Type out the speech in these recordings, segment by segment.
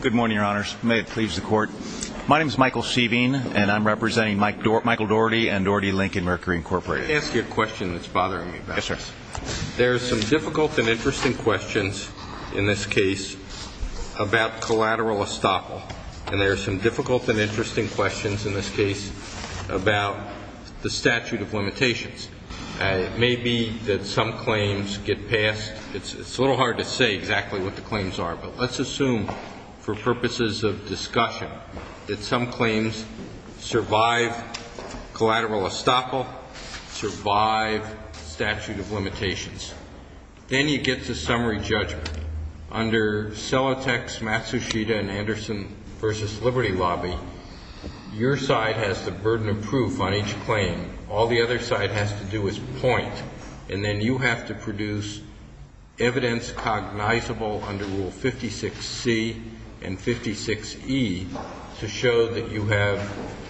Good morning, your honors. May it please the court. My name is Michael Seaveen, and I'm representing Michael Daugherty and Daugherty Lincoln Mercury Incorporated. Let me ask you a question that's bothering me about this. Yes, sir. There are some difficult and interesting questions in this case about collateral estoppel. And there are some difficult and interesting questions in this case about the statute of limitations. It may be that some claims get passed. It's a little hard to say exactly what the claims are. But let's assume for purposes of discussion that some claims survive collateral estoppel, survive statute of limitations. Then you get to summary judgment. Under Celotex, Matsushita, and Anderson v. Liberty Lobby, your side has the burden of proof on each claim. All the other side has to do is point. And then you have to produce evidence cognizable under Rule 56C and 56E to show that you have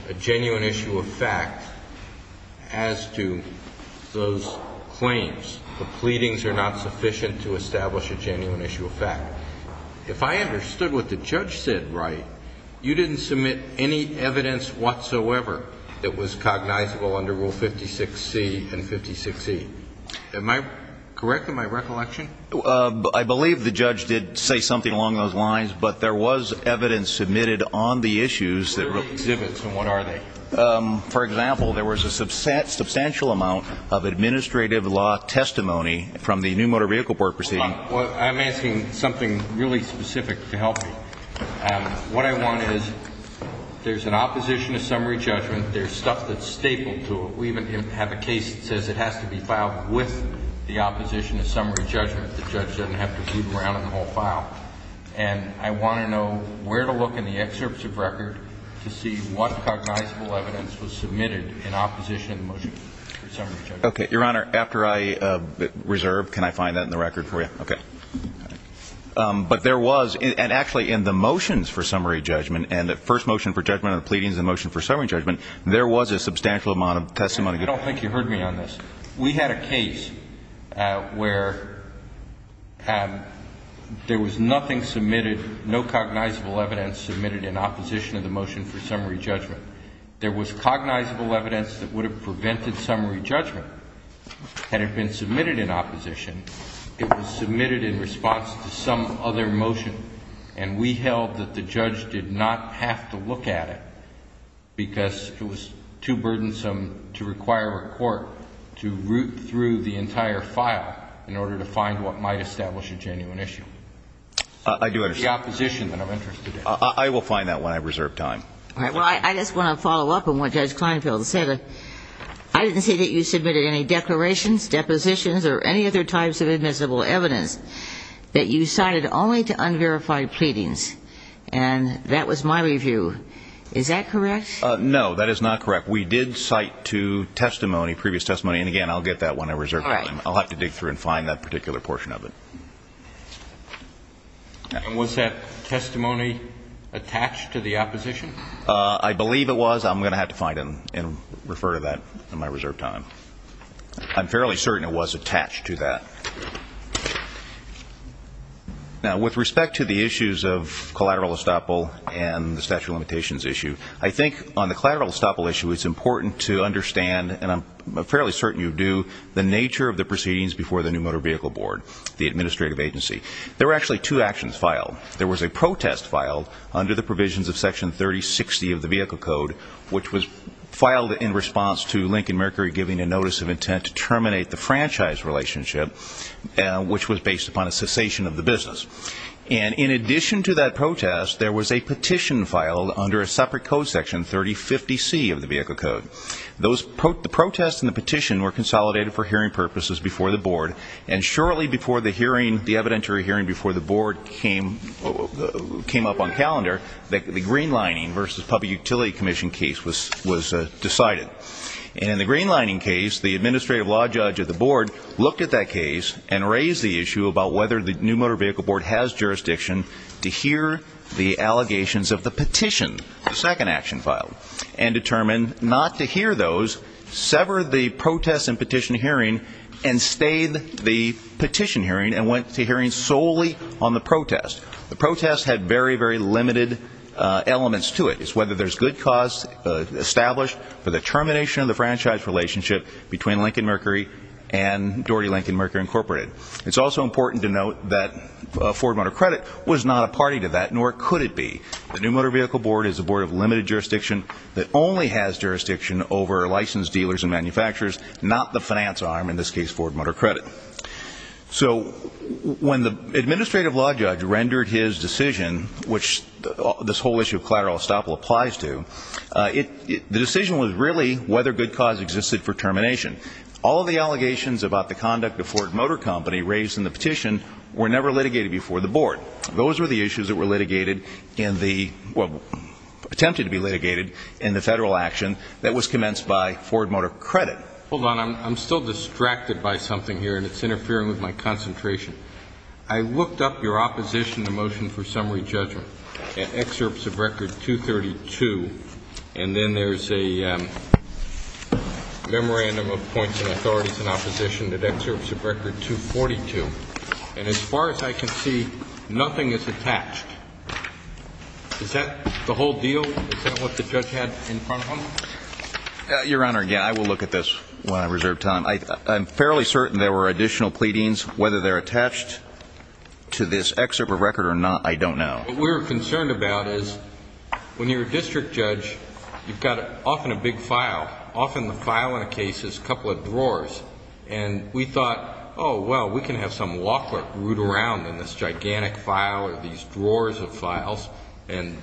a genuine issue of fact as to those claims. The pleadings are not sufficient to establish a genuine issue of fact. If I understood what the judge said right, you didn't submit any evidence whatsoever that was cognizable under Rule 56C and 56E. Am I correct in my recollection? I believe the judge did say something along those lines. But there was evidence submitted on the issues. What are the exhibits, and what are they? For example, there was a substantial amount of administrative law testimony from the New Motor Vehicle Board proceeding. I'm asking something really specific to help me. What I want is there's an opposition to summary judgment. There's stuff that's stapled to it. We even have a case that says it has to be filed with the opposition to summary judgment. The judge doesn't have to boot him around in the whole file. And I want to know where to look in the excerpts of record to see what cognizable evidence was submitted in opposition to the motion for summary judgment. Okay. Your Honor, after I reserve, can I find that in the record for you? Okay. But there was, and actually in the motions for summary judgment and the first motion for judgment and the pleadings and the motion for summary judgment, there was a substantial amount of testimony. I don't think you heard me on this. We had a case where there was nothing submitted, no cognizable evidence submitted in opposition to the motion for summary judgment. There was cognizable evidence that would have prevented summary judgment had it been submitted in opposition. It was submitted in response to some other motion. And we held that the judge did not have to look at it because it was too burdensome to require a court to root through the entire file in order to find what might establish a genuine issue. I do understand. The opposition that I'm interested in. I will find that when I reserve time. All right. Well, I just want to follow up on what Judge Kleinfeld said. I didn't see that you submitted any declarations, depositions, or any other types of admissible evidence that you cited only to unverified pleadings. And that was my review. Is that correct? No, that is not correct. We did cite to testimony, previous testimony, and again, I'll get that when I reserve time. All right. I'll have to dig through and find that particular portion of it. And was that testimony attached to the opposition? I believe it was. I'm going to have to find it and refer to that in my reserve time. I'm fairly certain it was attached to that. Now, with respect to the issues of collateral estoppel and the statute of limitations issue, I think on the collateral estoppel issue it's important to understand, and I'm fairly certain you do, the nature of the proceedings before the New Motor Vehicle Board, the administrative agency. There were actually two actions filed. There was a protest filed under the provisions of Section 3060 of the Vehicle Code, which was filed in response to Lincoln Mercury giving a notice of intent to terminate the franchise relationship, which was based upon a cessation of the business. And in addition to that protest, there was a petition filed under a separate code, Section 3050C of the Vehicle Code. The protest and the petition were consolidated for hearing purposes before the board, and shortly before the hearing, the evidentiary hearing before the board came up on calendar, the greenlining versus public utility commission case was decided. And in the greenlining case, the administrative law judge of the board looked at that case and raised the issue about whether the New Motor Vehicle Board has jurisdiction to hear the allegations of the petition, the second action filed, and determined not to hear those, sever the protest and petition hearing, and stayed the petition hearing and went to hearing solely on the protest. The protest had very, very limited elements to it. It's whether there's good cause established for the termination of the franchise relationship between Lincoln Mercury and Doherty Lincoln Mercury Incorporated. It's also important to note that Ford Motor Credit was not a party to that, nor could it be. The New Motor Vehicle Board is a board of limited jurisdiction that only has jurisdiction over licensed dealers and manufacturers, not the finance arm, in this case Ford Motor Credit. So when the administrative law judge rendered his decision, which this whole issue of collateral estoppel applies to, the decision was really whether good cause existed for termination. All of the allegations about the conduct of Ford Motor Company raised in the petition were never litigated before the board. Those were the issues that were litigated in the, well, attempted to be litigated in the federal action that was commenced by Ford Motor Credit. Hold on. I'm still distracted by something here, and it's interfering with my concentration. I looked up your opposition to motion for summary judgment at excerpts of record 232, and then there's a memorandum of points and authorities in opposition that excerpts of record 242. And as far as I can see, nothing is attached. Is that the whole deal? Is that what the judge had in front of him? Your Honor, again, I will look at this when I reserve time. I'm fairly certain there were additional pleadings. Whether they're attached to this excerpt of record or not, I don't know. What we were concerned about is when you're a district judge, you've got often a big file. Often the file in a case is a couple of drawers. And we thought, oh, well, we can have some law clerk root around in this gigantic file or these drawers of files, and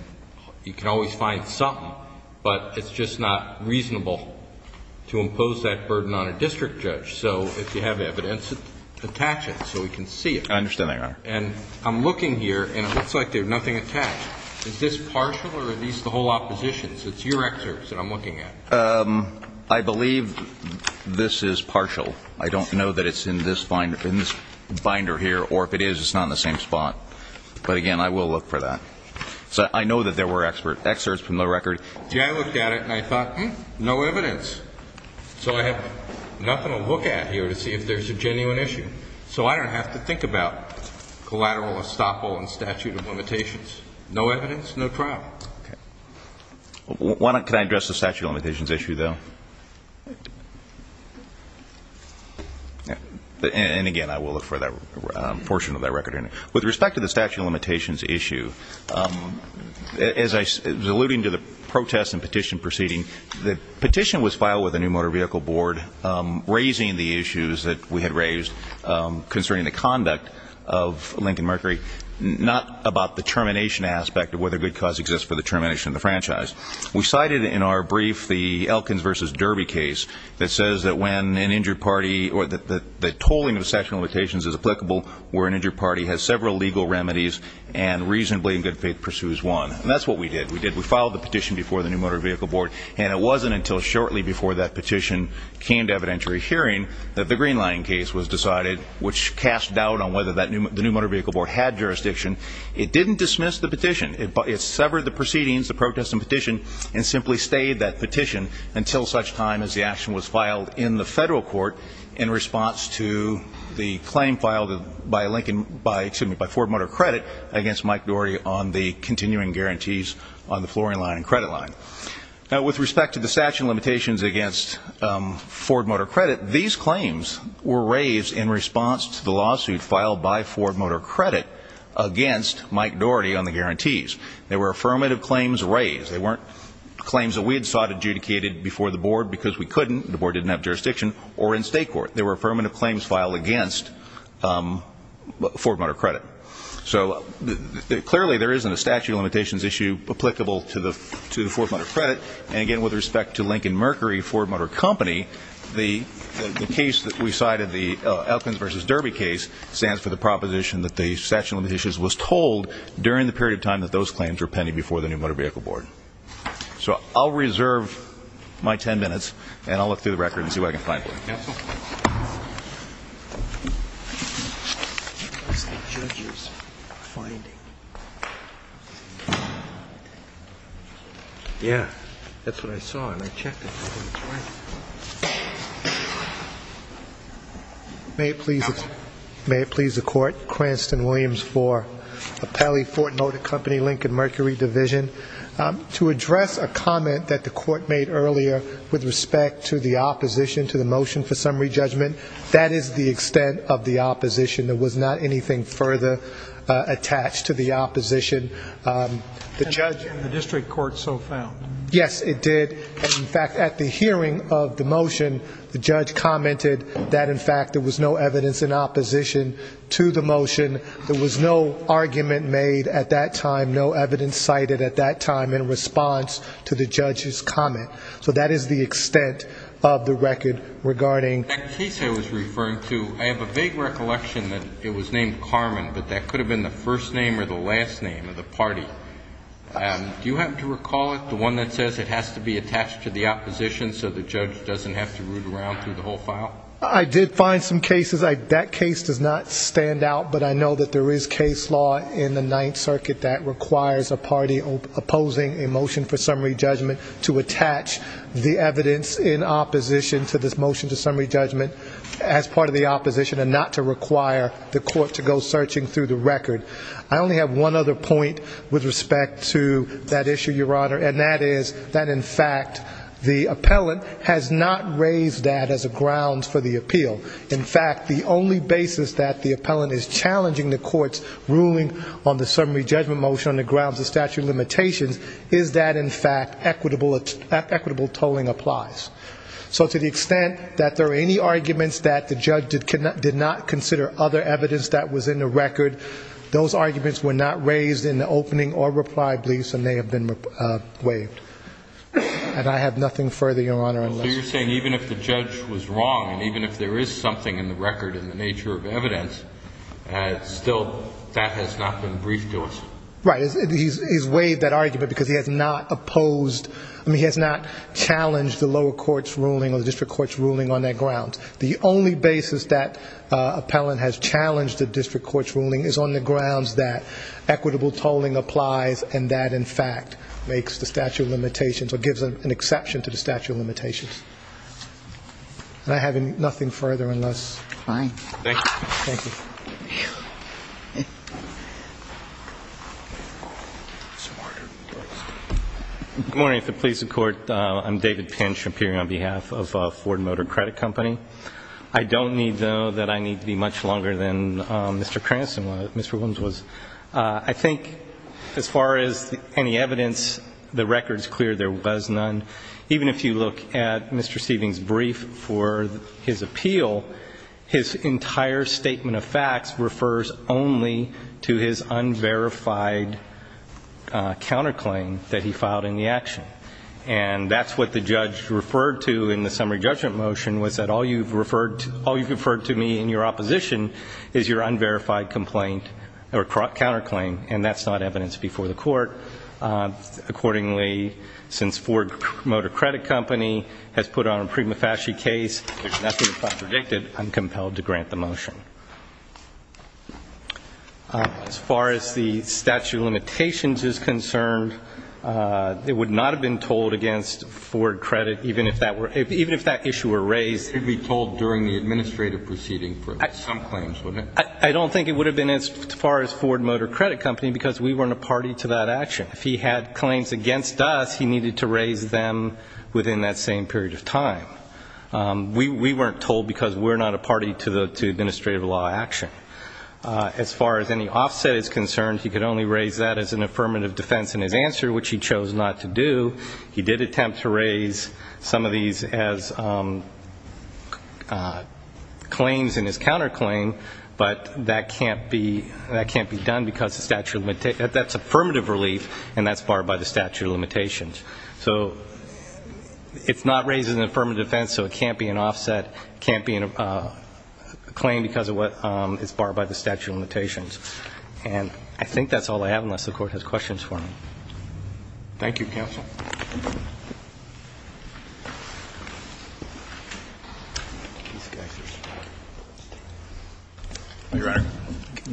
you can always find something, but it's just not reasonable to impose that burden on a district judge. So if you have evidence, attach it so we can see it. I understand that, Your Honor. And I'm looking here, and it looks like there's nothing attached. Is this partial, or are these the whole oppositions? It's your excerpts that I'm looking at. I believe this is partial. I don't know that it's in this binder here, or if it is, it's not in the same spot. But, again, I will look for that. So I know that there were excerpts from the record. Yeah, I looked at it, and I thought, hmm, no evidence. So I have nothing to look at here to see if there's a genuine issue. So I don't have to think about collateral estoppel and statute of limitations. No evidence, no problem. Can I address the statute of limitations issue, though? And, again, I will look for that portion of that record. With respect to the statute of limitations issue, as I was alluding to the protest and petition proceeding, the petition was filed with the New Motor Vehicle Board raising the issues that we had raised concerning the conduct of Lincoln Mercury, not about the termination aspect of whether good cause exists for the termination of the franchise. We cited in our brief the Elkins v. Derby case that says that when an injured party or that the tolling of the statute of limitations is applicable, where an injured party has several legal remedies and reasonably in good faith pursues one. And that's what we did. We filed the petition before the New Motor Vehicle Board, and it wasn't until shortly before that petition came to evidentiary hearing that the Green Line case was decided, which cast doubt on whether the New Motor Vehicle Board had jurisdiction. It didn't dismiss the petition. It severed the proceedings, the protest and petition, and simply stayed that petition until such time as the action was filed in the federal court in response to the claim filed by Ford Motor Credit against Mike Doherty on the continuing guarantees on the flooring line and credit line. Now, with respect to the statute of limitations against Ford Motor Credit, these claims were raised in response to the lawsuit filed by Ford Motor Credit against Mike Doherty on the guarantees. They were affirmative claims raised. They weren't claims that we had sought adjudicated before the board because we couldn't, the board didn't have jurisdiction, or in state court. They were affirmative claims filed against Ford Motor Credit. So clearly there isn't a statute of limitations issue applicable to the Ford Motor Credit. And, again, with respect to Lincoln Mercury Ford Motor Company, the case that we cited, the Elkins v. Derby case, stands for the proposition that the statute of limitations was told during the period of time that those claims were pending before the New Motor Vehicle Board. So I'll reserve my ten minutes, and I'll look through the record and see what I can find. Counsel? What's the judge's finding? Yeah, that's what I saw, and I checked it. May it please the court. Cranston Williams for Appellee Ford Motor Company, Lincoln Mercury Division. To address a comment that the court made earlier with respect to the opposition to the motion for summary judgment, that is the extent of the opposition. There was not anything further attached to the opposition. And the district court so found? Yes, it did. In fact, at the hearing of the motion, the judge commented that, in fact, there was no evidence in opposition to the motion. There was no argument made at that time, no evidence cited at that time in response to the judge's comment. So that is the extent of the record regarding. That case I was referring to, I have a vague recollection that it was named Carmen, but that could have been the first name or the last name of the party. Do you happen to recall it? The one that says it has to be attached to the opposition so the judge doesn't have to root around through the whole file. I did find some cases. That case does not stand out. But I know that there is case law in the Ninth Circuit that requires a party opposing a motion for summary judgment to attach the evidence in opposition to this motion to summary judgment as part of the opposition and not to require the court to go searching through the record. I only have one other point with respect to that issue, Your Honor, and that is that, in fact, the appellant has not raised that as a ground for the appeal. In fact, the only basis that the appellant is challenging the court's ruling on the summary judgment motion on the grounds of statute of limitations is that, in fact, equitable tolling applies. So to the extent that there are any arguments that the judge did not consider other evidence that was in the record, those arguments were not raised in the opening or reply briefs and they have been waived. And I have nothing further, Your Honor. So you're saying even if the judge was wrong and even if there is something in the record in the nature of evidence, still that has not been briefed to us? Right. He's waived that argument because he has not opposed, I mean, he has not challenged the lower court's ruling or the district court's ruling on that ground. The only basis that appellant has challenged the district court's ruling is on the grounds that equitable tolling applies and that, in fact, makes the statute of limitations or gives an exception to the statute of limitations. And I have nothing further unless. Fine. Thank you. Thank you. Mr. Martin. Good morning. If it pleases the Court, I'm David Pinch, appearing on behalf of Ford Motor Credit Company. I don't need, though, that I need to be much longer than Mr. Cranston, Mr. Williams was. I think as far as any evidence, the record is clear there was none. Even if you look at Mr. Stevens' brief for his appeal, his entire statement of facts refers only to his unverified counterclaim that he filed in the action. And that's what the judge referred to in the summary judgment motion was that all you've referred to me in your opposition is your unverified complaint or counterclaim, and that's not evidence before the court. Accordingly, since Ford Motor Credit Company has put on a prima facie case, there's nothing if I predict it I'm compelled to grant the motion. As far as the statute of limitations is concerned, it would not have been tolled against Ford Credit, even if that issue were raised. It would be tolled during the administrative proceeding for some claims, wouldn't it? I don't think it would have been as far as Ford Motor Credit Company because we weren't a party to that action. If he had claims against us, he needed to raise them within that same period of time. We weren't tolled because we're not a party to administrative law action. As far as any offset is concerned, he could only raise that as an affirmative defense in his answer, which he chose not to do. He did attempt to raise some of these as claims in his counterclaim, but that can't be done because that's affirmative relief and that's barred by the statute of limitations. So it's not raised as an affirmative defense, so it can't be an offset, can't be a claim because it's barred by the statute of limitations. And I think that's all I have, unless the Court has questions for me. Thank you, Counsel. Thank you, Your Honor.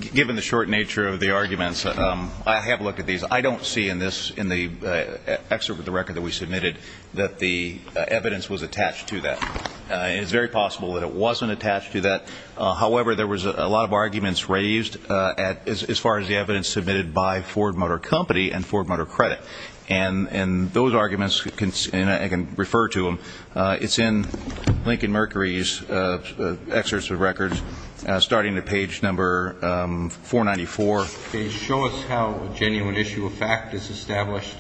Given the short nature of the arguments, I have looked at these. I don't see in the excerpt of the record that we submitted that the evidence was attached to that. It is very possible that it wasn't attached to that. However, there was a lot of arguments raised as far as the evidence submitted by Ford Motor Company and Ford Motor Credit. And those arguments, and I can refer to them, it's in Lincoln Mercury's excerpts of records starting at page number 494. They show us how a genuine issue of fact is established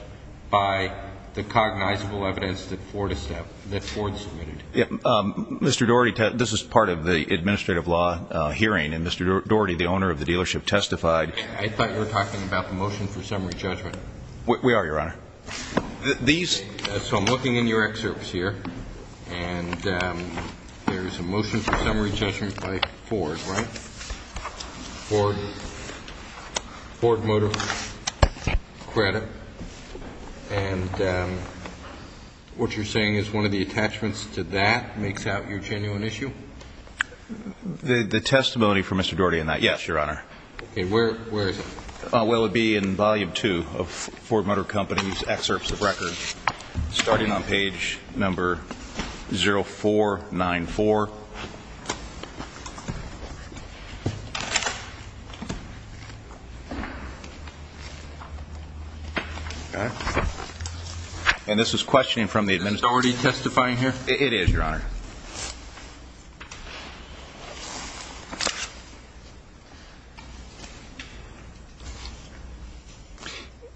by the cognizable evidence that Ford submitted. Mr. Daugherty, this is part of the administrative law hearing, and Mr. Daugherty, the owner of the dealership, testified. I thought you were talking about the motion for summary judgment. We are, Your Honor. So I'm looking in your excerpts here, and there's a motion for summary judgment by Ford, right? Ford Motor Credit. And what you're saying is one of the attachments to that makes out your genuine issue? The testimony from Mr. Daugherty in that, yes, Your Honor. Where is it? Well, it would be in volume two of Ford Motor Company's excerpts of records starting on page number 0494. And this is questioning from the administration. Is Daugherty testifying here? It is, Your Honor.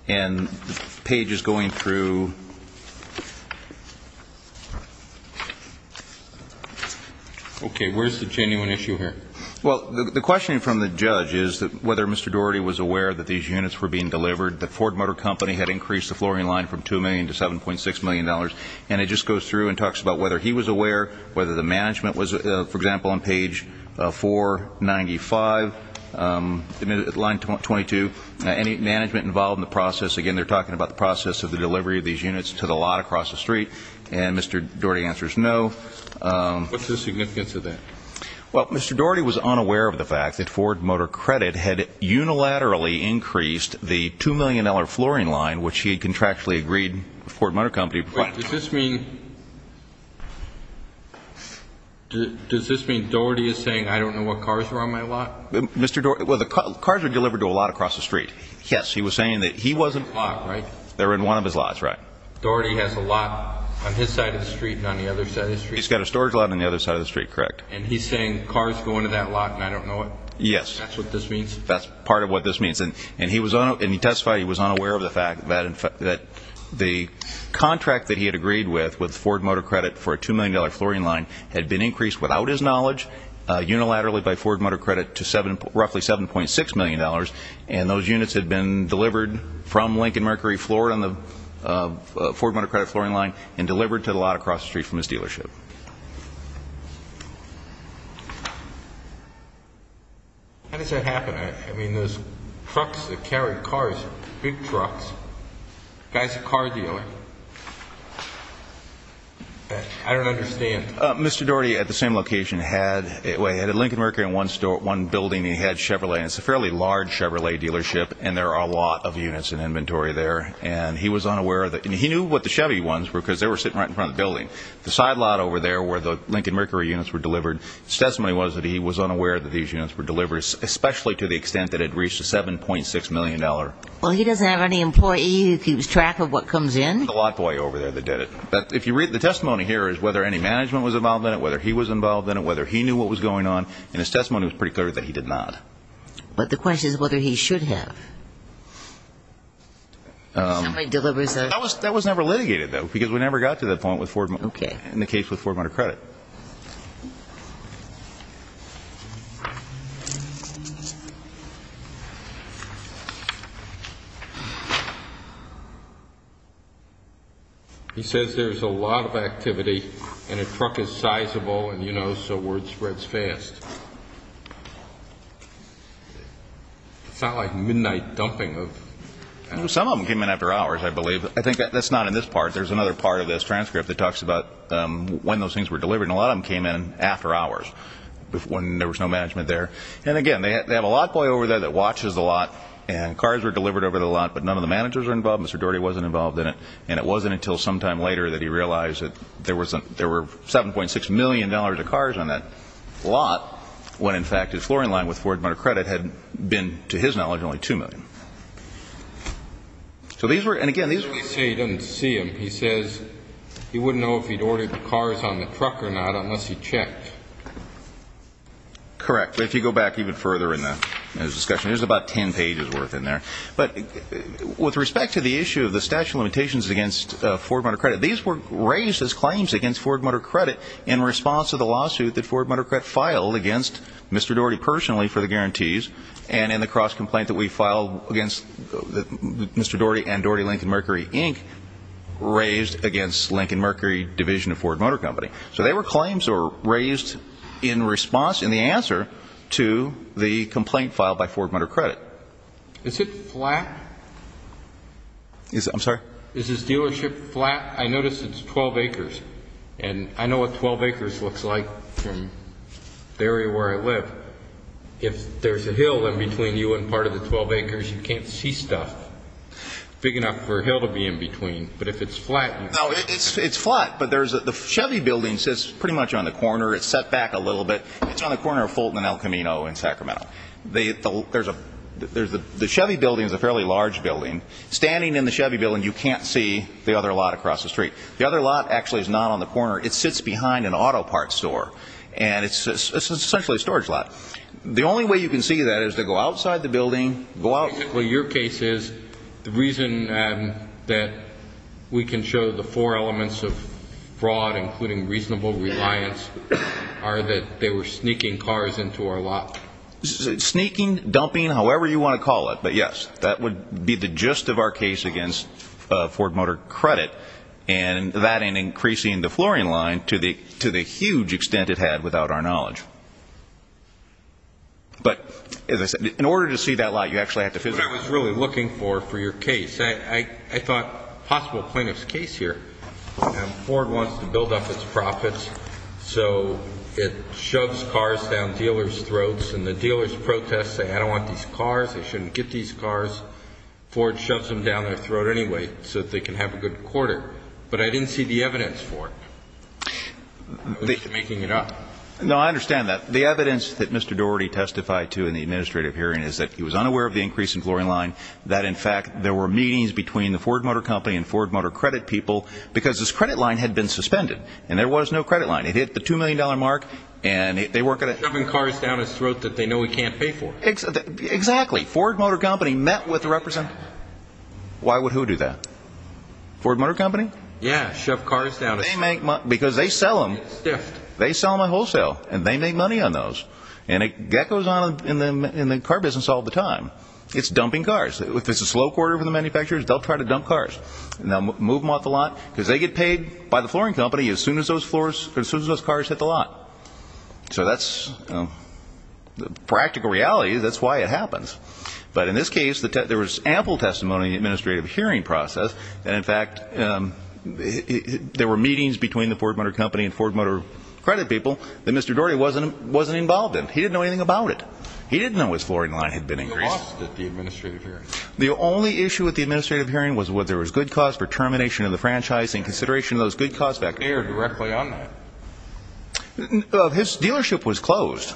And the page is going through. Okay, where's the genuine issue here? Well, the questioning from the judge is whether Mr. Daugherty was aware that these units were being delivered, that Ford Motor Company had increased the flooring line from $2 million to $7.6 million, and it just goes through and talks about whether he was aware, whether the management was, for example, on page 495, line 22, any management involved in the process. Again, they're talking about the process of the delivery of these units to the lot across the street, and Mr. Daugherty answers no. What's the significance of that? Well, Mr. Daugherty was unaware of the fact that Ford Motor Credit had unilaterally increased the $2 million flooring line, which he had contractually agreed with Ford Motor Company. Wait, does this mean Daugherty is saying, I don't know what cars are on my lot? Mr. Daugherty, well, the cars are delivered to a lot across the street. Yes, he was saying that he wasn't. They're in one of his lots, right? Daugherty has a lot on his side of the street and on the other side of the street. He's got a storage lot on the other side of the street, correct. And he's saying cars go into that lot and I don't know it? Yes. That's what this means? That's part of what this means. And he testified he was unaware of the fact that the contract that he had agreed with, with Ford Motor Credit for a $2 million flooring line, had been increased without his knowledge unilaterally by Ford Motor Credit to roughly $7.6 million, and those units had been delivered from Lincoln Mercury Floor on the Ford Motor Credit flooring line and delivered to the lot across the street from his dealership. How does that happen? I mean, there's trucks that carry cars, big trucks. The guy's a car dealer. I don't understand. Mr. Daugherty at the same location had Lincoln Mercury in one building. He had Chevrolet, and it's a fairly large Chevrolet dealership, and there are a lot of units in inventory there. And he was unaware of that. He knew what the Chevy ones were because they were sitting right in front of the building. The side lot over there where the Lincoln Mercury units were delivered, his testimony was that he was unaware that these units were delivered, especially to the extent that it reached a $7.6 million. Well, he doesn't have any employee who keeps track of what comes in. The lot boy over there that did it. But if you read the testimony here, it's whether any management was involved in it, whether he was involved in it, whether he knew what was going on, and his testimony was pretty clear that he did not. But the question is whether he should have. Somebody delivers those. That was never litigated, though, because we never got to that point with Ford Motor Credit. He says there's a lot of activity, and a truck is sizable, and, you know, so word spreads fast. It's not like midnight dumping. Some of them came in after hours, I believe. I think that's not in this part. There's another part of this transcript that talks about when those things were delivered, and a lot of them came in after hours when there was no management there. And, again, they have a lot boy over there that watches the lot, and cars were delivered over the lot, but none of the managers were involved. Mr. Doherty wasn't involved in it. And it wasn't until sometime later that he realized that there were $7.6 million of cars on that lot when, in fact, his flooring line with Ford Motor Credit had been, to his knowledge, only $2 million. So these were – and, again, these were – He doesn't say he doesn't see them. He says he wouldn't know if he'd ordered the cars on the truck or not unless he checked. Correct. But if you go back even further in the discussion, there's about 10 pages worth in there. But with respect to the issue of the statute of limitations against Ford Motor Credit, these were raised as claims against Ford Motor Credit in response to the lawsuit that Ford Motor Credit filed against Mr. Doherty personally for the guarantees, and in the cross-complaint that we filed against Mr. Doherty and Doherty-Lincoln-Mercury, Inc., raised against Lincoln-Mercury Division of Ford Motor Company. So they were claims that were raised in response, in the answer, to the complaint filed by Ford Motor Credit. Is it flat? I'm sorry? Is this dealership flat? I noticed it's 12 acres, and I know what 12 acres looks like from the area where I live. But if there's a hill in between you and part of the 12 acres, you can't see stuff big enough for a hill to be in between. But if it's flat? No, it's flat, but the Chevy building sits pretty much on the corner. It's set back a little bit. It's on the corner of Fulton and El Camino in Sacramento. The Chevy building is a fairly large building. Standing in the Chevy building, you can't see the other lot across the street. The other lot actually is not on the corner. It sits behind an auto parts store, and it's essentially a storage lot. The only way you can see that is to go outside the building. Well, your case is the reason that we can show the four elements of fraud, including reasonable reliance, are that they were sneaking cars into our lot. Sneaking, dumping, however you want to call it. But, yes, that would be the gist of our case against Ford Motor Credit. And that and increasing the flooring line to the huge extent it had without our knowledge. But in order to see that lot, you actually have to visit it. What I was really looking for for your case, I thought a possible plaintiff's case here. Ford wants to build up its profits, so it shoves cars down dealers' throats, and the dealers protest, say, I don't want these cars, they shouldn't get these cars. Ford shoves them down their throat anyway so that they can have a good quarter. But I didn't see the evidence for it. They're making it up. No, I understand that. The evidence that Mr. Daugherty testified to in the administrative hearing is that he was unaware of the increase in flooring line, that, in fact, there were meetings between the Ford Motor Company and Ford Motor Credit people because this credit line had been suspended, and there was no credit line. It hit the $2 million mark, and they weren't going to – Shoving cars down his throat that they know he can't pay for. Exactly. Ford Motor Company met with the representative. Why would who do that? Ford Motor Company? Yeah, shove cars down his throat. Because they sell them. They sell them on wholesale, and they make money on those. And that goes on in the car business all the time. It's dumping cars. If it's a slow quarter for the manufacturers, they'll try to dump cars. They'll move them off the lot because they get paid by the flooring company as soon as those cars hit the lot. So that's the practical reality. That's why it happens. But in this case, there was ample testimony in the administrative hearing process, and, in fact, there were meetings between the Ford Motor Company and Ford Motor Credit people that Mr. Daugherty wasn't involved in. He didn't know anything about it. He didn't know his flooring line had been increased. You lost at the administrative hearing. The only issue at the administrative hearing was whether there was good cause for termination of the franchise in consideration of those good cause factors. His dealership was closed.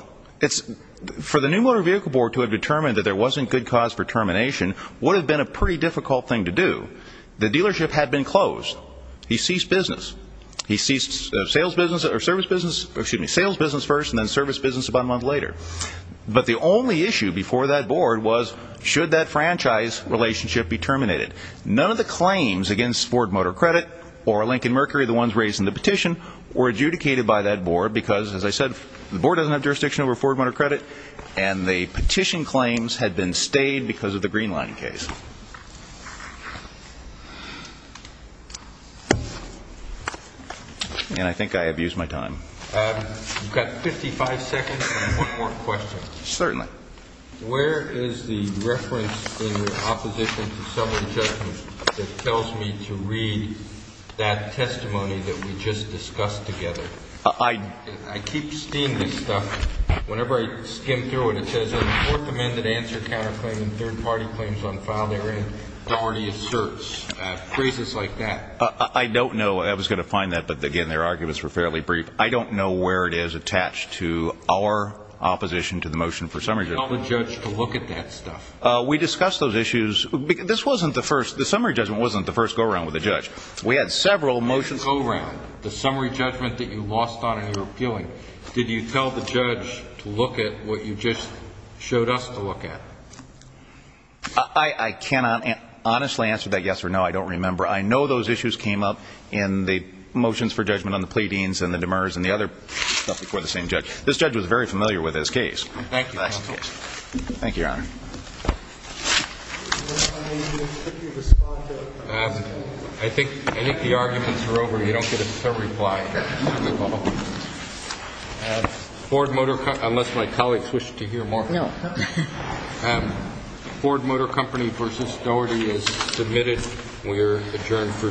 For the New Motor Vehicle Board to have determined that there wasn't good cause for termination would have been a pretty difficult thing to do. The dealership had been closed. He ceased business. He ceased sales business first and then service business about a month later. But the only issue before that board was should that franchise relationship be terminated. None of the claims against Ford Motor Credit or Lincoln Mercury, the ones raised in the petition, were adjudicated by that board because, as I said, the board doesn't have jurisdiction over Ford Motor Credit, and the petition claims had been stayed because of the Green Line case. And I think I have used my time. You've got 55 seconds and one more question. Certainly. Where is the reference in your opposition to summary judgment that tells me to read that testimony that we just discussed together? I keep seeing this stuff. Whenever I skim through it, it says a Fourth Amendment answer counterclaim and third-party claims on file therein. It already asserts phrases like that. I don't know. I was going to find that, but, again, their arguments were fairly brief. I don't know where it is attached to our opposition to the motion for summary judgment. Did you tell the judge to look at that stuff? We discussed those issues. This wasn't the first. The summary judgment wasn't the first go-around with the judge. We had several motions. The go-around, the summary judgment that you lost on in your appealing, did you tell the judge to look at what you just showed us to look at? I cannot honestly answer that yes or no. I don't remember. I know those issues came up in the motions for judgment on the pleadings and the demurs and the other stuff before the same judge. This judge was very familiar with this case. Thank you, Your Honor. Thank you, Your Honor. I think the arguments are over. You don't get a third reply. Ford Motor Company, unless my colleagues wish to hear more. Ford Motor Company v. Doherty is submitted. We are adjourned for today.